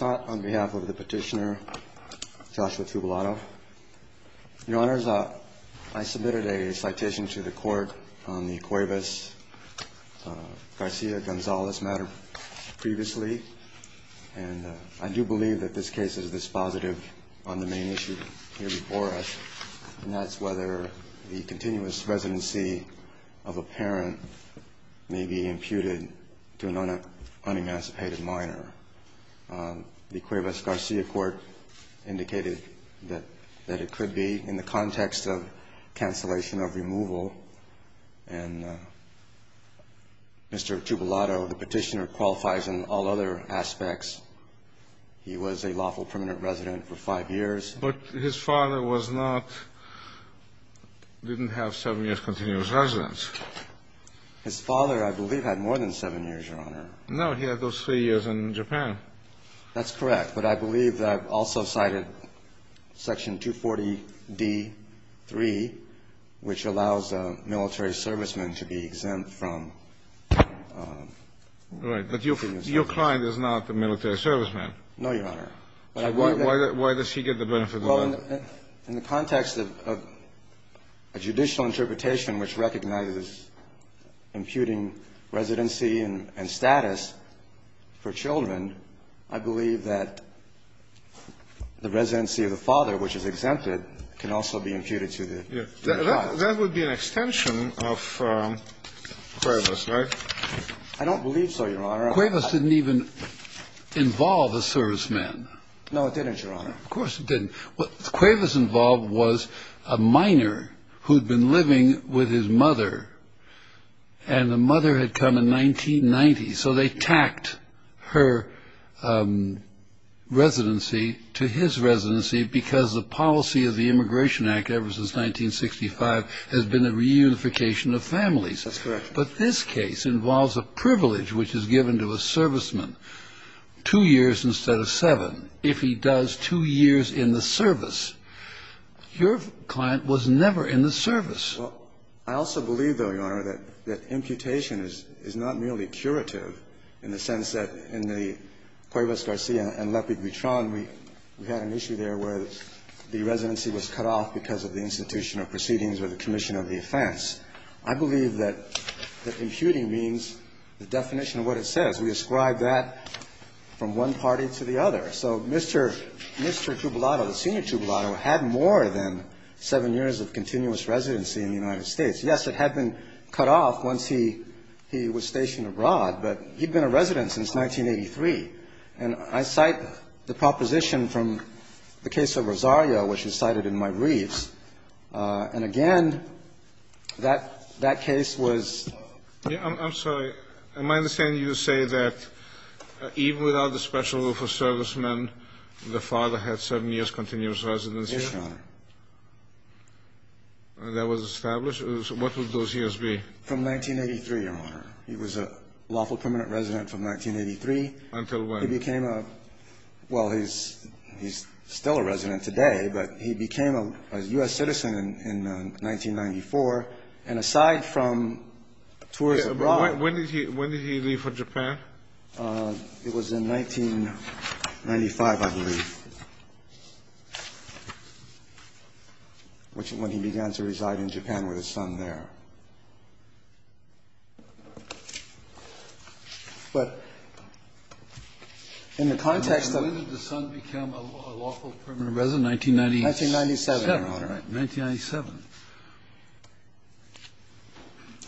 on behalf of the petitioner, Joshua Tubalado. Your Honors, I submitted a citation to the court on the Cuevas-Garcia-Gonzalez matter previously, and I do believe that this case is dispositive on the main issue here before us, and that's whether the continuous residency of a parent may be imputed to an unemancipated minor. The Cuevas-Garcia court indicated that it could be in the context of cancellation of removal, and Mr. Tubalado, the petitioner, qualifies in all other aspects. He was a lawful permanent resident for five years. But his father was not – didn't have seven years' continuous residence. His father, I believe, had more than seven years, Your Honor. No. He had those three years in Japan. That's correct. But I believe that I've also cited Section 240d.3, which allows a military serviceman to be exempt from continuous residency. Right. But your client is not a military serviceman. No, Your Honor. Why does he get the benefit of that? Well, in the context of a judicial interpretation which recognizes imputing residency and status for children, I believe that the residency of the father, which is exempted, can also be imputed to the child. That would be an extension of Cuevas, right? I don't believe so, Your Honor. Cuevas didn't even involve a serviceman. No, it didn't, Your Honor. Of course it didn't. What Cuevas involved was a minor who'd been living with his mother. And the mother had come in 1990. So they tacked her residency to his residency because the policy of the Immigration Act ever since 1965 has been a reunification of families. That's correct. But this case involves a privilege which is given to a serviceman, two years instead of seven, if he does two years in the service. Your client was never in the service. Well, I also believe, though, Your Honor, that imputation is not merely curative in the sense that in the Cuevas-Garcia and Lepid-Buitron, we had an issue there where the residency was cut off because of the institutional proceedings or the commission of the offense. I believe that imputing means the definition of what it says. We ascribe that from one party to the other. So Mr. Tubolato, the senior Tubolato, had more than seven years of continuous residency in the United States. Yes, it had been cut off once he was stationed abroad, but he'd been a resident since 1983. And I cite the proposition from the case of Rosario, which is cited in my briefs. And again, that case was ---- I'm sorry. Am I understanding you to say that even without the special rule for servicemen, the father had seven years continuous residency? Yes, Your Honor. And that was established? What would those years be? From 1983, Your Honor. He was a lawful permanent resident from 1983. Until when? He became a ---- well, he's still a resident today, but he became a U.S. citizen in 1994. And aside from tours abroad ---- When did he leave for Japan? It was in 1995, I believe, when he began to reside in Japan with his son there. But in the context of ---- When did the son become a lawful permanent resident? 1997, Your Honor. All right. 1997.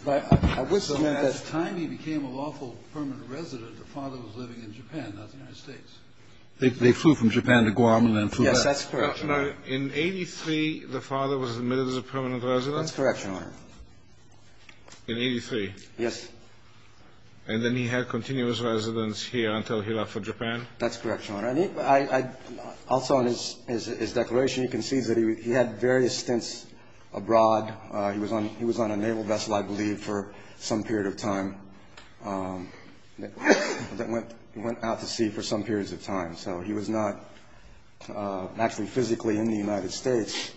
But I would submit that ---- So at the time he became a lawful permanent resident, the father was living in Japan, not the United States. They flew from Japan to Guam and then flew back. Yes, that's correct, Your Honor. In 83, the father was admitted as a permanent resident? That's correct, Your Honor. In 83? And then he had continuous residence here until he left for Japan? That's correct, Your Honor. Also in his declaration, you can see that he had various stints abroad. He was on a naval vessel, I believe, for some period of time that went out to sea for some periods of time. So he was not actually physically in the United States,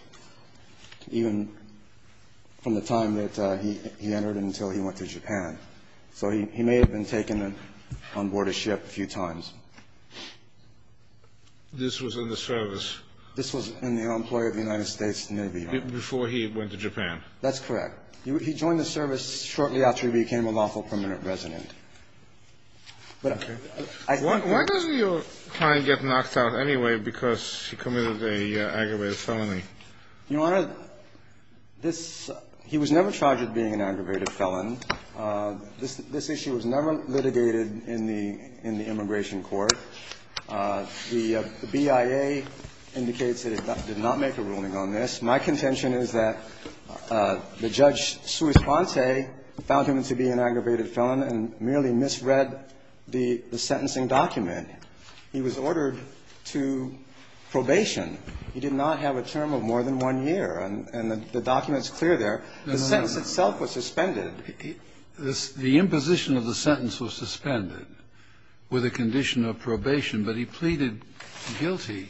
even from the time that he entered until he went to Japan. So he may have been taken on board a ship a few times. This was in the service? This was in the employ of the United States Navy, Your Honor. Before he went to Japan? That's correct. He joined the service shortly after he became a lawful permanent resident. Why does your client get knocked out anyway because he committed an aggravated felony? Your Honor, this ---- he was never charged with being an aggravated felon. This issue was never litigated in the immigration court. The BIA indicates that it did not make a ruling on this. My contention is that the Judge Suis Ponte found him to be an aggravated felon and merely misread the sentencing document. He was ordered to probation. He did not have a term of more than one year. And the document is clear there. The sentence itself was suspended. The imposition of the sentence was suspended with a condition of probation. But he pleaded guilty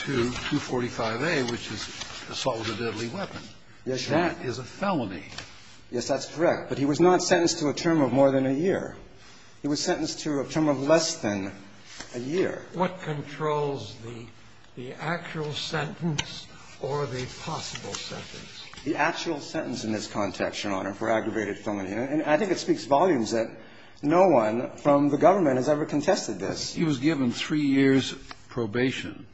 to 245A, which is assault with a deadly weapon. Yes, Your Honor. That is a felony. Yes, that's correct. But he was not sentenced to a term of more than a year. He was sentenced to a term of less than a year. What controls the actual sentence or the possible sentence? The actual sentence in this context, Your Honor, for aggravated felony. And I think it speaks volumes that no one from the government has ever contested this. He was given three years probation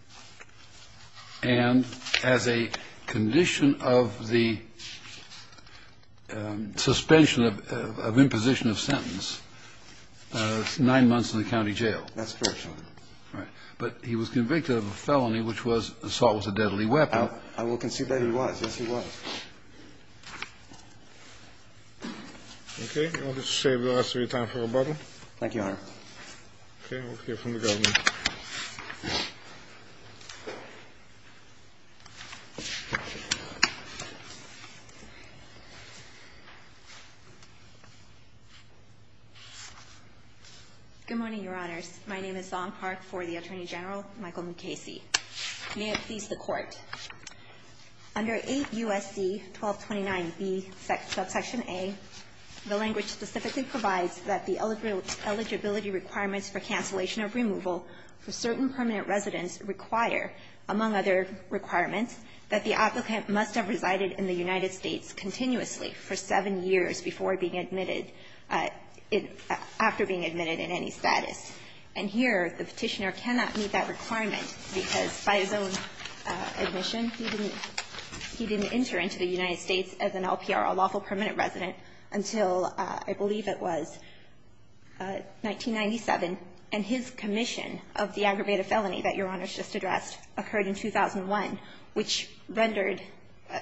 and as a condition of the suspension of imposition of sentence, nine months in the county jail. That's correct, Your Honor. Right. But he was convicted of a felony, which was assault with a deadly weapon. I will concede that he was. Yes, he was. OK. I'll just save the rest of your time for rebuttal. Thank you, Your Honor. OK. We'll hear from the government. Good morning, Your Honors. My name is Zong Park for the Attorney General, Michael Mukasey. May it please the Court. Under 8 U.S.C. 1229b, subsection a, the language specifically provides that the eligibility requirements for cancellation of removal for certain permanent residents require, among other requirements, that the applicant must have resided in the United States continuously for seven years before being admitted, after being admitted in any status. And here, the Petitioner cannot meet that requirement because, by his own admission, he didn't enter into the United States as an LPR, a lawful permanent resident, until I believe it was 1997. And his commission of the aggravated felony that Your Honors just addressed occurred in 2001, which rendered,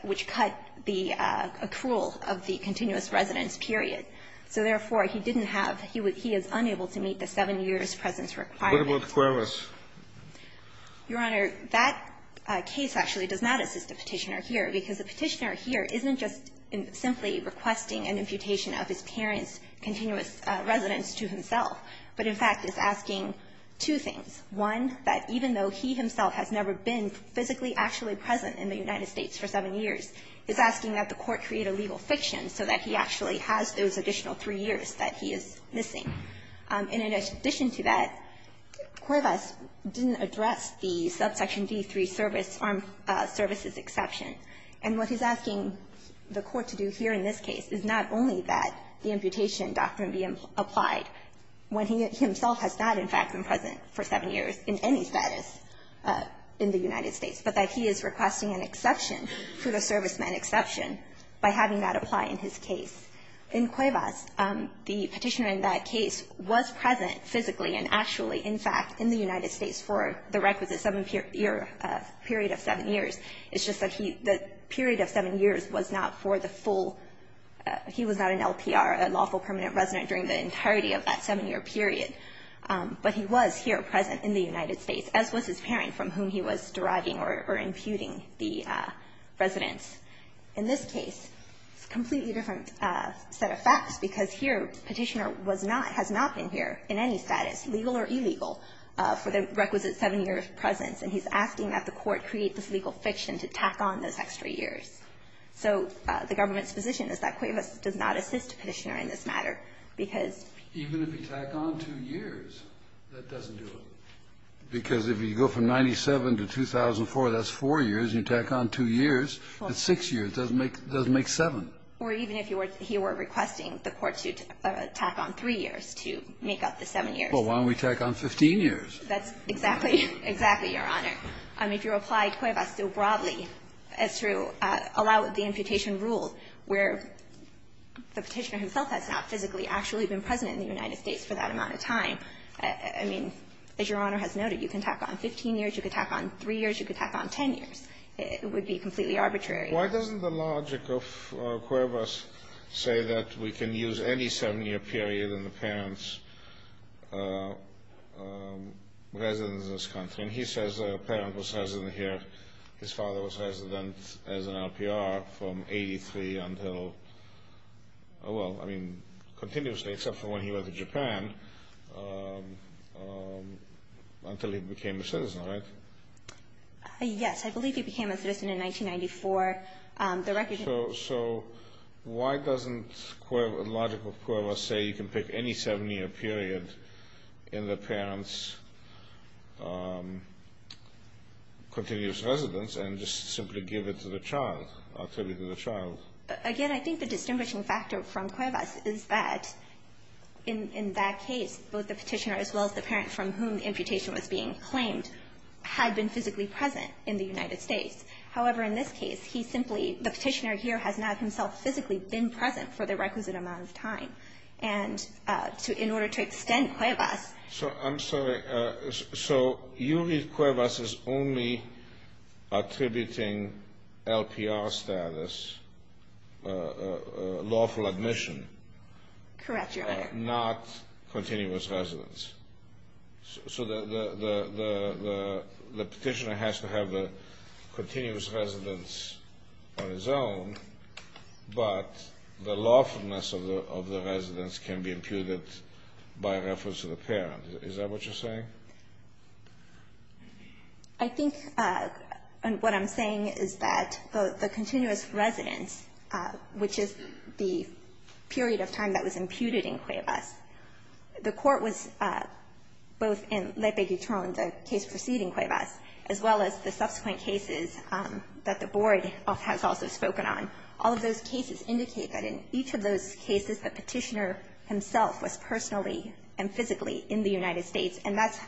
which cut the accrual of the continuous residence period. So, therefore, he didn't have, he is unable to meet the seven years' presence requirement. What about Cuervas? Your Honor, that case actually does not assist the Petitioner here because the Petitioner here isn't just simply requesting an imputation of his parents' continuous residence to himself, but in fact is asking two things. One, that even though he himself has never been physically actually present in the additional three years that he is missing, and in addition to that, Cuervas didn't address the subsection D3 service, armed services exception. And what he's asking the Court to do here in this case is not only that the imputation doctrine be applied when he himself has not, in fact, been present for seven years in any status in the United States, but that he is requesting an exception, for the servicemen exception, by having that apply in his case. In Cuervas, the Petitioner in that case was present physically and actually, in fact, in the United States for the requisite seven-year period of seven years. It's just that he, the period of seven years was not for the full, he was not an LPR, a lawful permanent resident during the entirety of that seven-year period. But he was here present in the United States, as was his parent from whom he was deriving or imputing the residence. In this case, it's a completely different set of facts, because here Petitioner was not, has not been here in any status, legal or illegal, for the requisite seven-year presence, and he's asking that the Court create this legal fiction to tack on those extra years. So the government's position is that Cuervas does not assist Petitioner in this matter, because he's going to be tacked on two years. That doesn't do it. Because if you go from 97 to 2004, that's four years. You tack on two years. It's six years. It doesn't make seven. Or even if he were requesting the Court to tack on three years to make up the seven years. Well, why don't we tack on 15 years? That's exactly, exactly, Your Honor. I mean, if you apply Cuervas still broadly as to allow the imputation rule where the Petitioner himself has not physically actually been present in the United States for that amount of time. I mean, as Your Honor has noted, you can tack on 15 years. You can tack on three years. You can tack on 10 years. It would be completely arbitrary. Why doesn't the logic of Cuervas say that we can use any seven-year period and the parents' residence in this country? And he says a parent was resident here. His father was resident as an RPR from 83 until, well, I mean, continuously except for when he went to Japan until he became a citizen, right? Yes, I believe he became a citizen in 1994. So why doesn't the logic of Cuervas say you can pick any seven-year period in the parents' continuous residence and just simply give it to the child, attribute it to the child? Again, I think the distinguishing factor from Cuervas is that in that case, both the Petitioner as well as the parent from whom the imputation was being claimed had been physically present in the United States. However, in this case, he simply the Petitioner here has not himself physically been present for the requisite amount of time. And in order to extend Cuervas ---- I'm sorry. So you read Cuervas as only attributing LPR status, lawful admission. Correct, Your Honor. Not continuous residence. So the Petitioner has to have a continuous residence on his own, but the lawfulness of the residence can be imputed by reference to the parent. Is that what you're saying? I think what I'm saying is that the continuous residence, which is the period of time that was imputed in Cuervas, the court was both in Lepe-Guitron, the case preceding Cuervas, as well as the subsequent cases that the Board has also spoken on, all of those cases indicate that in each of those cases the Petitioner himself was personally and physically in the United States. And that's ----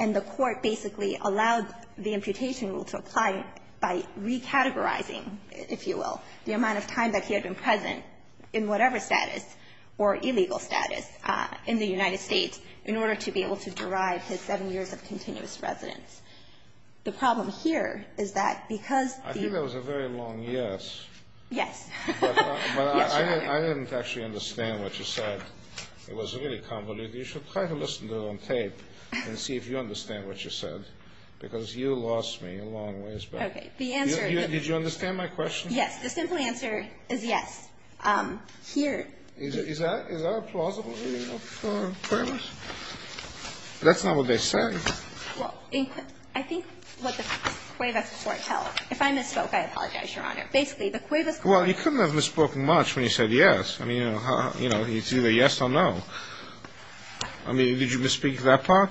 and the court basically allowed the imputation rule to apply by recategorizing, if you will, the amount of time that he had been present in whatever status or illegal status in the United States in order to be able to derive his seven years of continuous residence. The problem here is that because the ---- I think that was a very long yes. Yes. Yes, Your Honor. But I didn't actually understand what you said. It was really convoluted. You should try to listen to it on tape and see if you understand what you said, because you lost me a long ways back. Okay. The answer is ---- Did you understand my question? Yes. The simple answer is yes. Here ---- Is that a plausible reason for Cuervas? That's not what they say. Well, in ---- I think what the Cuervas court tells ---- if I misspoke, I apologize, Your Honor. Basically, the Cuervas court ---- Well, you couldn't have misspoken much when you said yes. I mean, you know, it's either yes or no. I mean, did you misspeak that part?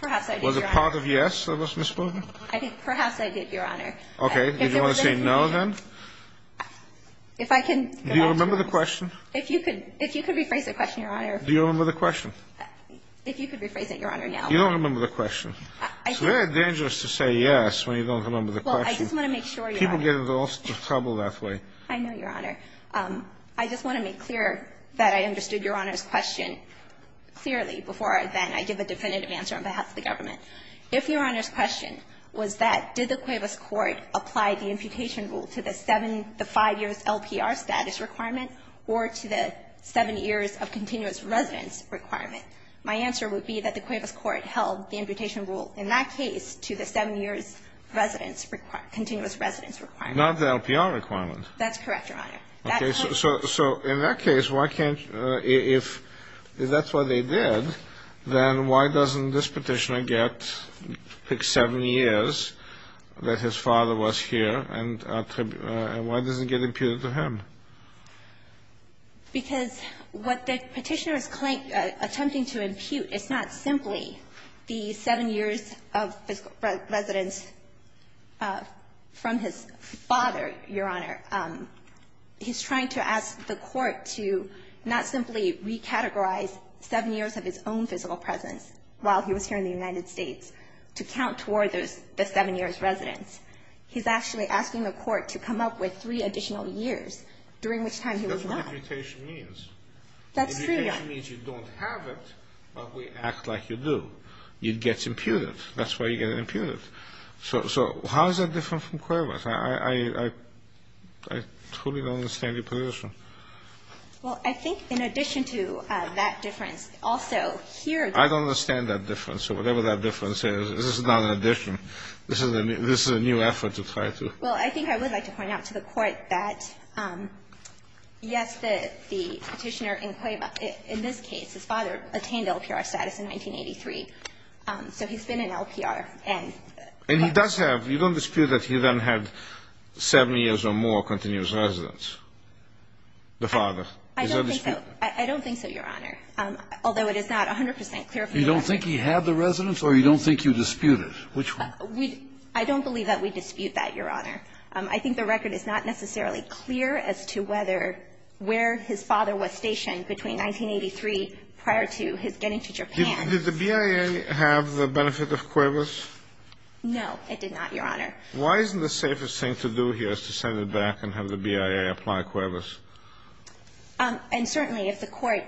Perhaps I did, Your Honor. Was a part of yes that was misspoken? I think perhaps I did, Your Honor. Okay. Did you want to say no, then? If I can ---- Do you remember the question? If you could ---- if you could rephrase the question, Your Honor. Do you remember the question? If you could rephrase it, Your Honor, now. You don't remember the question. I think ---- It's very dangerous to say yes when you don't remember the question. Well, I just want to make sure, Your Honor. People get into all sorts of trouble that way. I know, Your Honor. I just want to make clear that I understood Your Honor's question clearly before I then ---- I give a definitive answer on behalf of the government. If Your Honor's question was that did the Cuervas court apply the imputation rule to the seven ---- the five years LPR status requirement or to the seven years of continuous residence requirement, my answer would be that the Cuervas court held the imputation rule in that case to the seven years residence ---- continuous residence requirement. Not the LPR requirement. That's correct, Your Honor. Okay. So in that case, why can't ---- if that's what they did, then why doesn't this Petitioner get ---- pick seven years that his father was here, and why doesn't it get imputed to him? Because what the Petitioner is attempting to impute is not simply the seven years of physical residence from his father, Your Honor. He's trying to ask the court to not simply recategorize seven years of his own physical presence while he was here in the United States, to count toward the seven years residence. He's actually asking the court to come up with three additional years, during which time he was not. That's what imputation means. That's true, Your Honor. Imputation means you don't have it, but we act like you do. It gets imputed. That's why you get it imputed. So how is that different from Cuervas? I truly don't understand your position. Well, I think in addition to that difference, also here ---- I don't understand that difference. So whatever that difference is, this is not an addition. This is a new effort to try to ---- Well, I think I would like to point out to the court that, yes, the Petitioner in Cuerva, in this case, his father attained LPR status in 1983. So he's been in LPR. And he does have ---- You don't dispute that he then had seven years or more continuous residence, the father? I don't think so. I don't think so, Your Honor. Although it is not 100 percent clear ---- You don't think he had the residence or you don't think you dispute it? Which one? I don't believe that we dispute that, Your Honor. I think the record is not necessarily clear as to whether where his father was stationed between 1983 prior to his getting to Japan. Did the BIA have the benefit of Cuervas? No, it did not, Your Honor. Why isn't the safest thing to do here is to send it back and have the BIA apply Cuervas? And certainly if the Court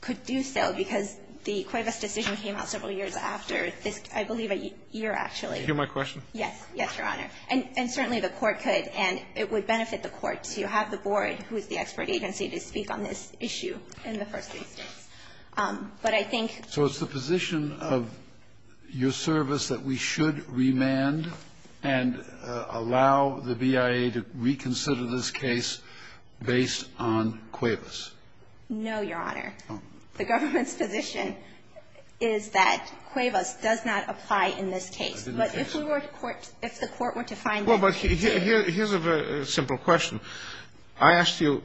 could do so, because the Cuervas decision came out several years after this, I believe a year, actually. Do you hear my question? Yes. Yes, Your Honor. And certainly the Court could, and it would benefit the Court to have the board, who is the expert agency, to speak on this issue in the first instance. But I think ---- So it's the position of your service that we should remand and allow the BIA to reconsider this case based on Cuervas? No, Your Honor. Oh. I think the government's position is that Cuervas does not apply in this case. But if we were to court ---- Well, but here's a very simple question. I asked you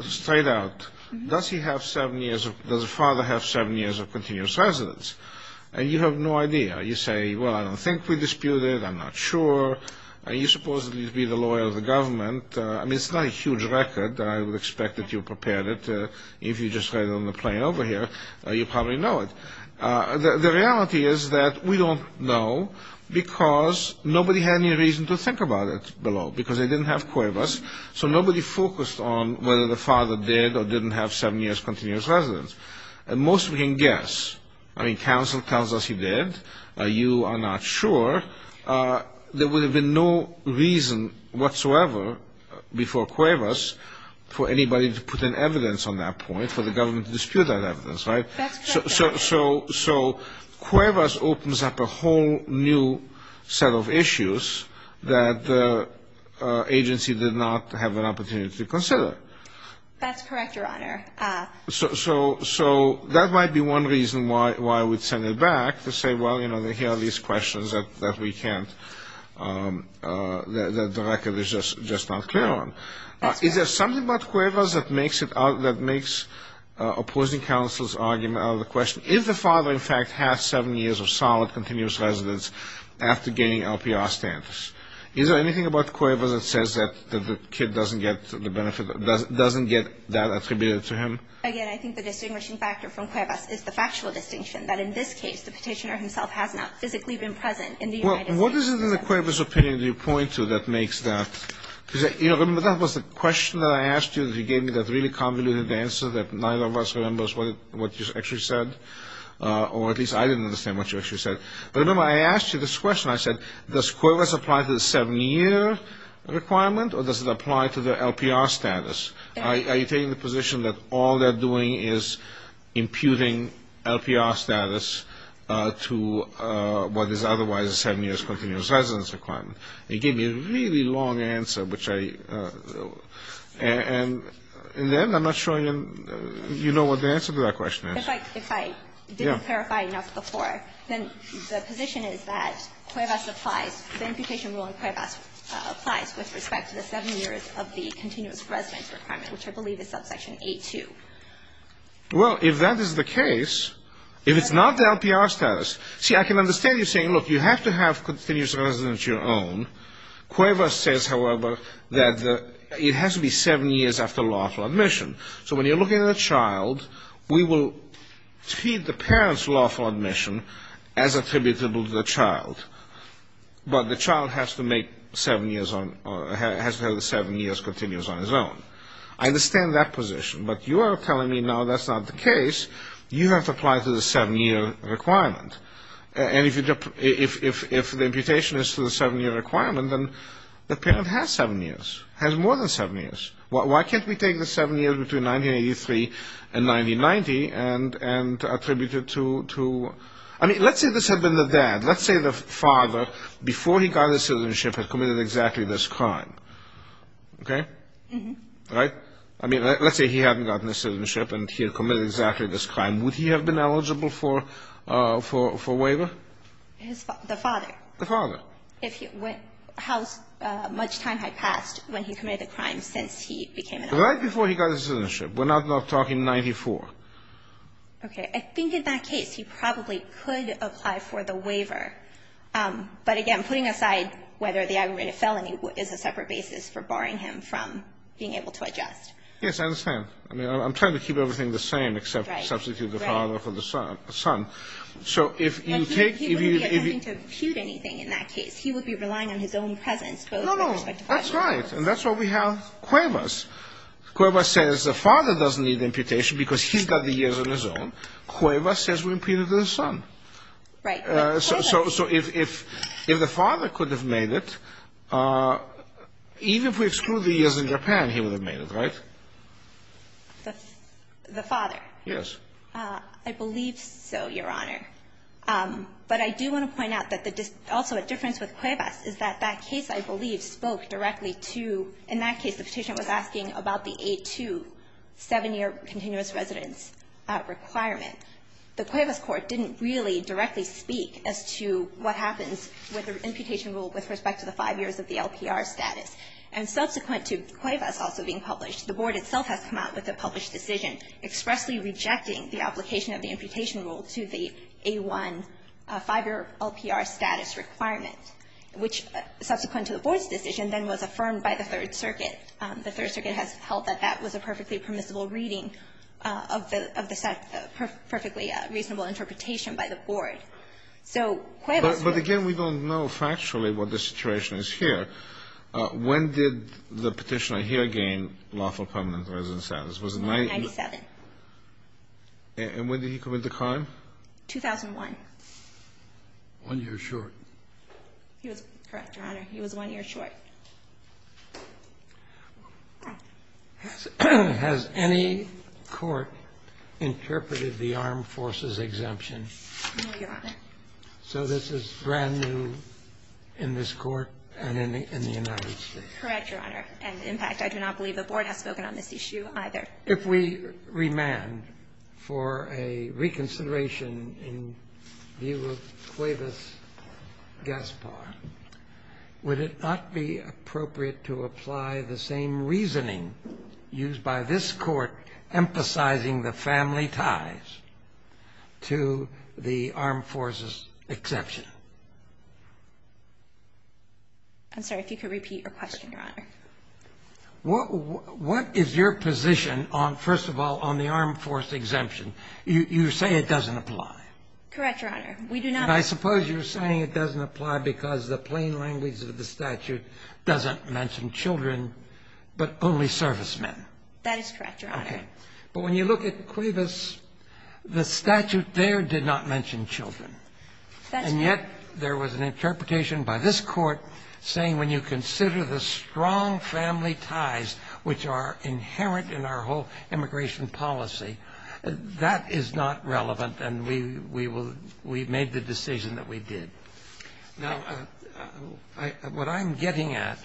straight out, does he have seven years of ---- does the father have seven years of continuous residence? And you have no idea. You say, well, I don't think we disputed. I'm not sure. You supposedly would be the lawyer of the government. I mean, it's not a huge record. I would expect that you prepared it. If you just read it on the plain over here, you probably know it. The reality is that we don't know because nobody had any reason to think about it below, because they didn't have Cuervas. So nobody focused on whether the father did or didn't have seven years continuous residence. And most of you can guess. I mean, counsel tells us he did. You are not sure. There would have been no reason whatsoever before Cuervas for anybody to put in evidence on that point, for the government to dispute that evidence, right? That's correct, Your Honor. So Cuervas opens up a whole new set of issues that the agency did not have an opportunity to consider. That's correct, Your Honor. So that might be one reason why we'd send it back, to say, well, you know, here are these questions that we can't, that the record is just not clear on. Is there something about Cuervas that makes opposing counsel's argument out of the question? If the father, in fact, had seven years of solid continuous residence after gaining LPR standards, is there anything about Cuervas that says that the kid doesn't get the benefit, doesn't get that attributed to him? Again, I think the distinguishing factor from Cuervas is the factual distinction, that in this case the petitioner himself has not physically been present in the United States. Well, what is it in the Cuervas opinion that you point to that makes that? Because, you know, remember that was the question that I asked you, that you gave me that really convoluted answer that neither of us remembers what you actually said, or at least I didn't understand what you actually said. But, remember, I asked you this question. I said, does Cuervas apply to the seven-year requirement, or does it apply to the LPR status? Are you taking the position that all they're doing is imputing LPR status to what is otherwise a seven-year continuous residence requirement? You gave me a really long answer, which I, and then I'm not sure you know what the answer to that question is. If I didn't clarify enough before, then the position is that Cuervas applies, the imputation rule in Cuervas applies with respect to the seven years of the continuous residence requirement, which I believe is subsection A2. Well, if that is the case, if it's not the LPR status, see, I can understand you saying, look, you have to have continuous residence of your own. Cuervas says, however, that it has to be seven years after lawful admission. So when you're looking at a child, we will treat the parent's lawful admission as attributable to the child, but the child has to have the seven years continuous on his own. I understand that position, but you are telling me now that's not the case. You have to apply to the seven-year requirement. And if the imputation is to the seven-year requirement, then the parent has seven years, has more than seven years. Why can't we take the seven years between 1983 and 1990 and attribute it to – I mean, let's say this had been the dad. Let's say the father, before he got his citizenship, had committed exactly this crime. Okay? Mm-hmm. Right? I mean, let's say he hadn't gotten his citizenship and he had committed exactly this crime. Would he have been eligible for waiver? The father. The father. How much time had passed when he committed the crime since he became an adult? Right before he got his citizenship. We're not talking 1994. Okay. I think in that case he probably could apply for the waiver. But, again, putting aside whether the aggravated felony is a separate basis for barring him from being able to adjust. Yes, I understand. I mean, I'm trying to keep everything the same except substitute the father for the son. He wouldn't be attempting to impute anything in that case. He would be relying on his own presence. No, no. That's right. And that's why we have Cuevas. Cuevas says the father doesn't need imputation because he's got the years on his own. Cuevas says we impute it to the son. Right. So if the father could have made it, even if we exclude the years in Japan, he would have made it. Right? The father? Yes. I believe so, Your Honor. But I do want to point out that also a difference with Cuevas is that that case, I believe, spoke directly to, in that case the petitioner was asking about the A2 seven-year continuous residence requirement. The Cuevas court didn't really directly speak as to what happens with the imputation rule with respect to the five years of the LPR status. And subsequent to Cuevas also being published, the board itself has come out with a published decision expressly rejecting the application of the imputation rule to the A1 five-year LPR status requirement, which, subsequent to the board's decision, then was affirmed by the Third Circuit. The Third Circuit has held that that was a perfectly permissible reading of the set of perfectly reasonable interpretation by the board. So Cuevas was the one who said that. But again, we don't know factually what the situation is here. When did the petitioner here gain lawful permanent residence status? Was it 1997? 1997. And when did he commit the crime? 2001. One year short. He was correct, Your Honor. He was one year short. Has any court interpreted the armed forces exemption? No, Your Honor. So this is brand new in this court and in the United States. Correct, Your Honor. And, in fact, I do not believe the board has spoken on this issue either. If we remand for a reconsideration in view of Cuevas-Gaspar, would it not be appropriate to apply the same reasoning used by this court emphasizing the family ties to the armed forces exemption? I'm sorry. If you could repeat your question, Your Honor. What is your position on, first of all, on the armed forces exemption? You say it doesn't apply. Correct, Your Honor. We do not. And I suppose you're saying it doesn't apply because the plain language of the statute doesn't mention children, but only servicemen. That is correct, Your Honor. Okay. But when you look at Cuevas, the statute there did not mention children. That's right. And yet there was an interpretation by this Court saying when you consider the strong family ties which are inherent in our whole immigration policy, that is not relevant and we made the decision that we did. Now, what I'm getting at,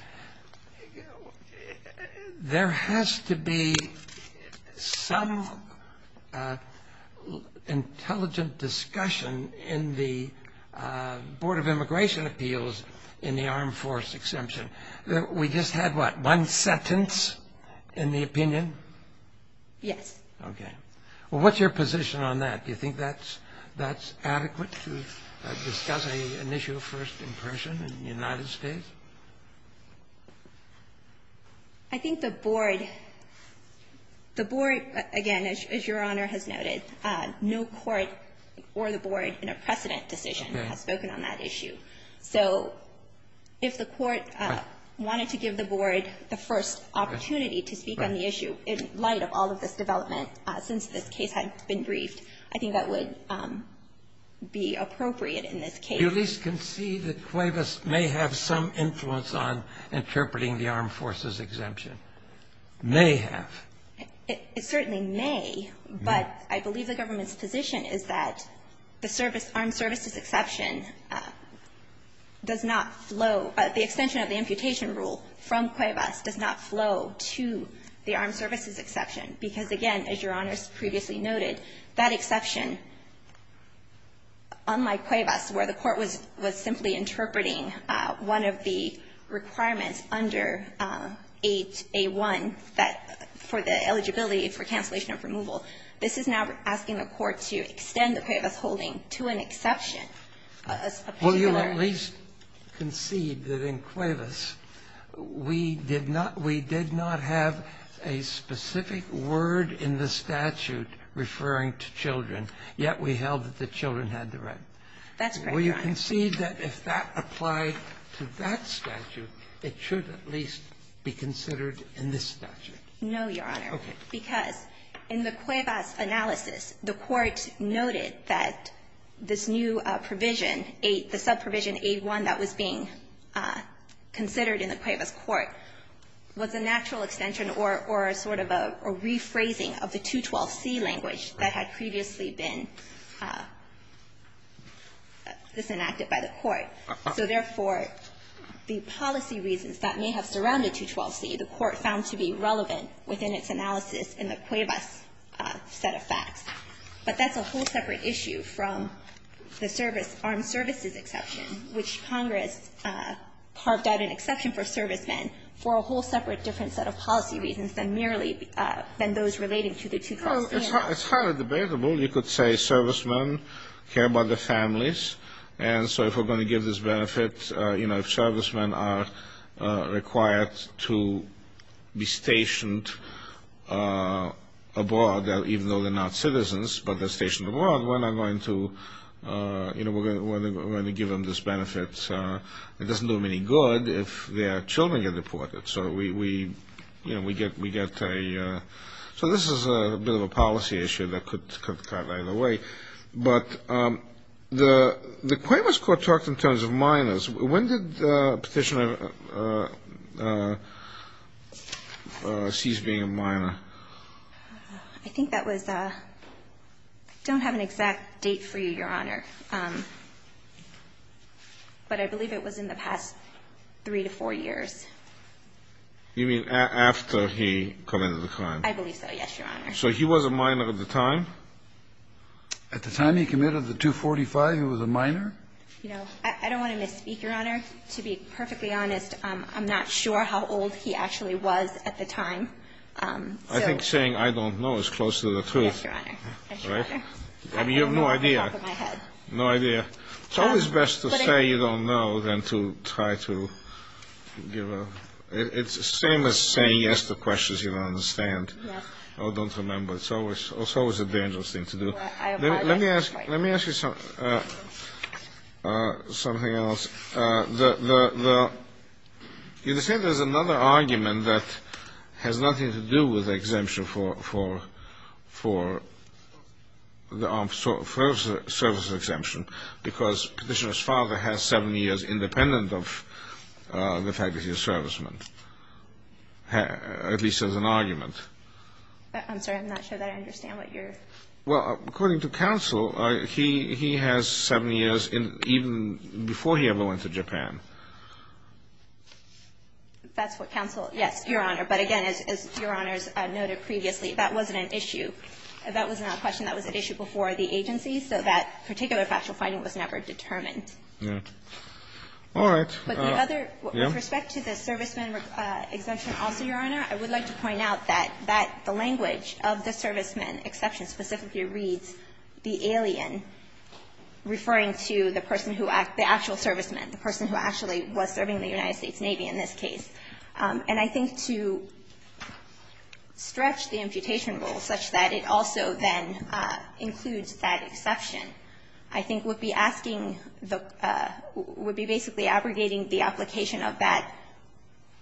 there has to be some intelligent discussion in the Board of Immigration Appeals in the armed forces exemption. We just had, what, one sentence in the opinion? Yes. Okay. Well, what's your position on that? Do you think that's adequate to discuss an issue first in person in the United States? I think the Board, the Board, again, as Your Honor has noted, no court or the Board in a precedent decision has spoken on that issue. So if the court wanted to give the Board the first opportunity to speak on the issue in light of all of this development since this case had been briefed, I think that would be appropriate in this case. Do you at least concede that Cuevas may have some influence on interpreting the armed forces exemption? May have. It certainly may, but I believe the government's position is that the service, armed services exception does not flow, the extension of the amputation rule from the armed services exception. Because, again, as Your Honor has previously noted, that exception, unlike Cuevas, where the court was simply interpreting one of the requirements under 8A1, that for the eligibility for cancellation of removal, this is now asking the court to extend the Cuevas holding to an exception. Will you at least concede that in Cuevas, we did not we did not have a specific word in the statute referring to children, yet we held that the children had the right. That's correct, Your Honor. Will you concede that if that applied to that statute, it should at least be considered in this statute? No, Your Honor. Okay. Because in the Cuevas analysis, the court noted that this new provision, 8, the subprovision 8-1 that was being considered in the Cuevas court, was a natural extension or a sort of a rephrasing of the 212c language that had previously been disenacted by the court. So therefore, the policy reasons that may have surrounded 212c, the court found to be relevant within its analysis in the Cuevas set of facts. But that's a whole separate issue from the service, armed services exception, which Congress carved out an exception for servicemen for a whole separate different set of policy reasons than merely than those relating to the 212c. It's highly debatable. You could say servicemen care about their families, and so if we're going to give them this benefit, you know, if servicemen are required to be stationed abroad, even though they're not citizens, but they're stationed abroad, we're not going to, you know, we're going to give them this benefit. It doesn't do them any good if their children get deported. So we, you know, we get a so this is a bit of a policy issue that could cut right away. But the Cuevas court talked in terms of minors. When did Petitioner seize being a minor? I think that was I don't have an exact date for you, Your Honor. But I believe it was in the past three to four years. You mean after he committed the crime? I believe so, yes, Your Honor. So he was a minor at the time? At the time he committed the 245, he was a minor? You know, I don't want to misspeak, Your Honor. To be perfectly honest, I'm not sure how old he actually was at the time. I think saying I don't know is close to the truth. Yes, Your Honor. I mean, you have no idea. No idea. It's always best to say you don't know than to try to give a it's the same as saying yes to questions you don't understand or don't remember. It's always a dangerous thing to do. Let me ask you something else. You said there's another argument that has nothing to do with the exemption for the service exemption because Petitioner's father has seven years independent of the fact that he's a serviceman, at least as an argument. I'm sorry. I'm not sure that I understand what you're ---- Well, according to counsel, he has seven years even before he ever went to Japan. That's what counsel ---- yes, Your Honor. But, again, as Your Honors noted previously, that wasn't an issue. That was not a question. That was an issue before the agency, so that particular factual finding was never determined. All right. But the other ---- With respect to the serviceman exemption also, Your Honor, I would like to point out that the language of the serviceman exception specifically reads the alien, referring to the person who act the actual serviceman, the person who actually was serving the United States Navy in this case. And I think to stretch the imputation rule such that it also then includes that exception, I think would be asking the ---- would be basically abrogating the application of that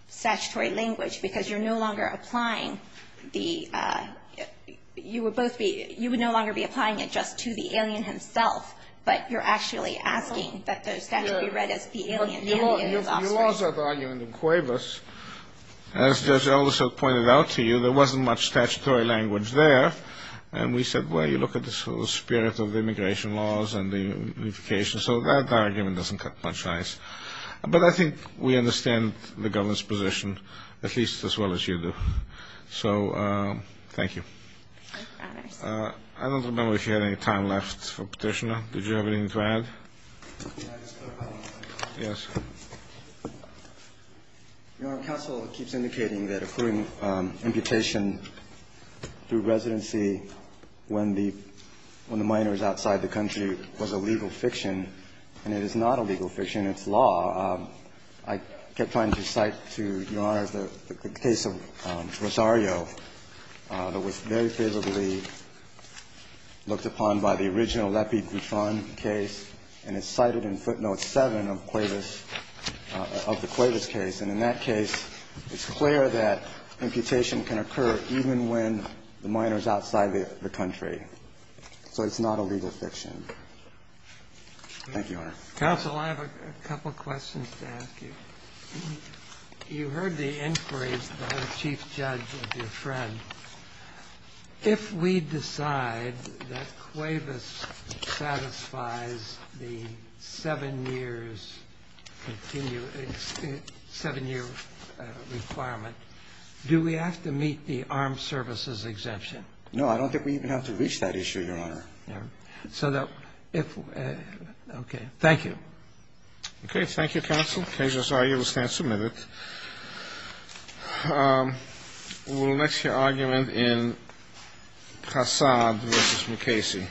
statutory language because you're no longer applying the ---- you would both be ---- you would no longer be applying it just to the alien himself, but you're actually asking that the statute be read as the alien and the alien's offspring. Your laws have an argument in Cuevas. As Judge Alderson pointed out to you, there wasn't much statutory language there. And we said, well, you look at the spirit of immigration laws and the unification, so that argument doesn't cut much ice. But I think we understand the government's position, at least as well as you do. So thank you. I don't remember if you had any time left for Petitioner. Did you have anything to add? Yes. Your Honor, counsel keeps indicating that including imputation through residency when the minor is outside the country was a legal fiction, and it is not a legal fiction. It's law. I kept trying to cite to Your Honor the case of Rosario that was very favorably looked upon by the original Lepie-Gouffin case, and it's cited in footnote 7 of Cuevas ---- of the Cuevas case. And in that case, it's clear that imputation can occur even when the minor is outside the country. Thank you, Your Honor. Counsel, I have a couple of questions to ask you. You heard the inquiries by the chief judge of your friend. If we decide that Cuevas satisfies the 7 years, 7-year requirement, do we have to meet the armed services exemption? No, I don't think we even have to reach that issue, Your Honor. Okay. Thank you. Okay. Thank you, counsel. Case of Rosario will stand submitted. We'll next hear argument in Hassad v. McCasey.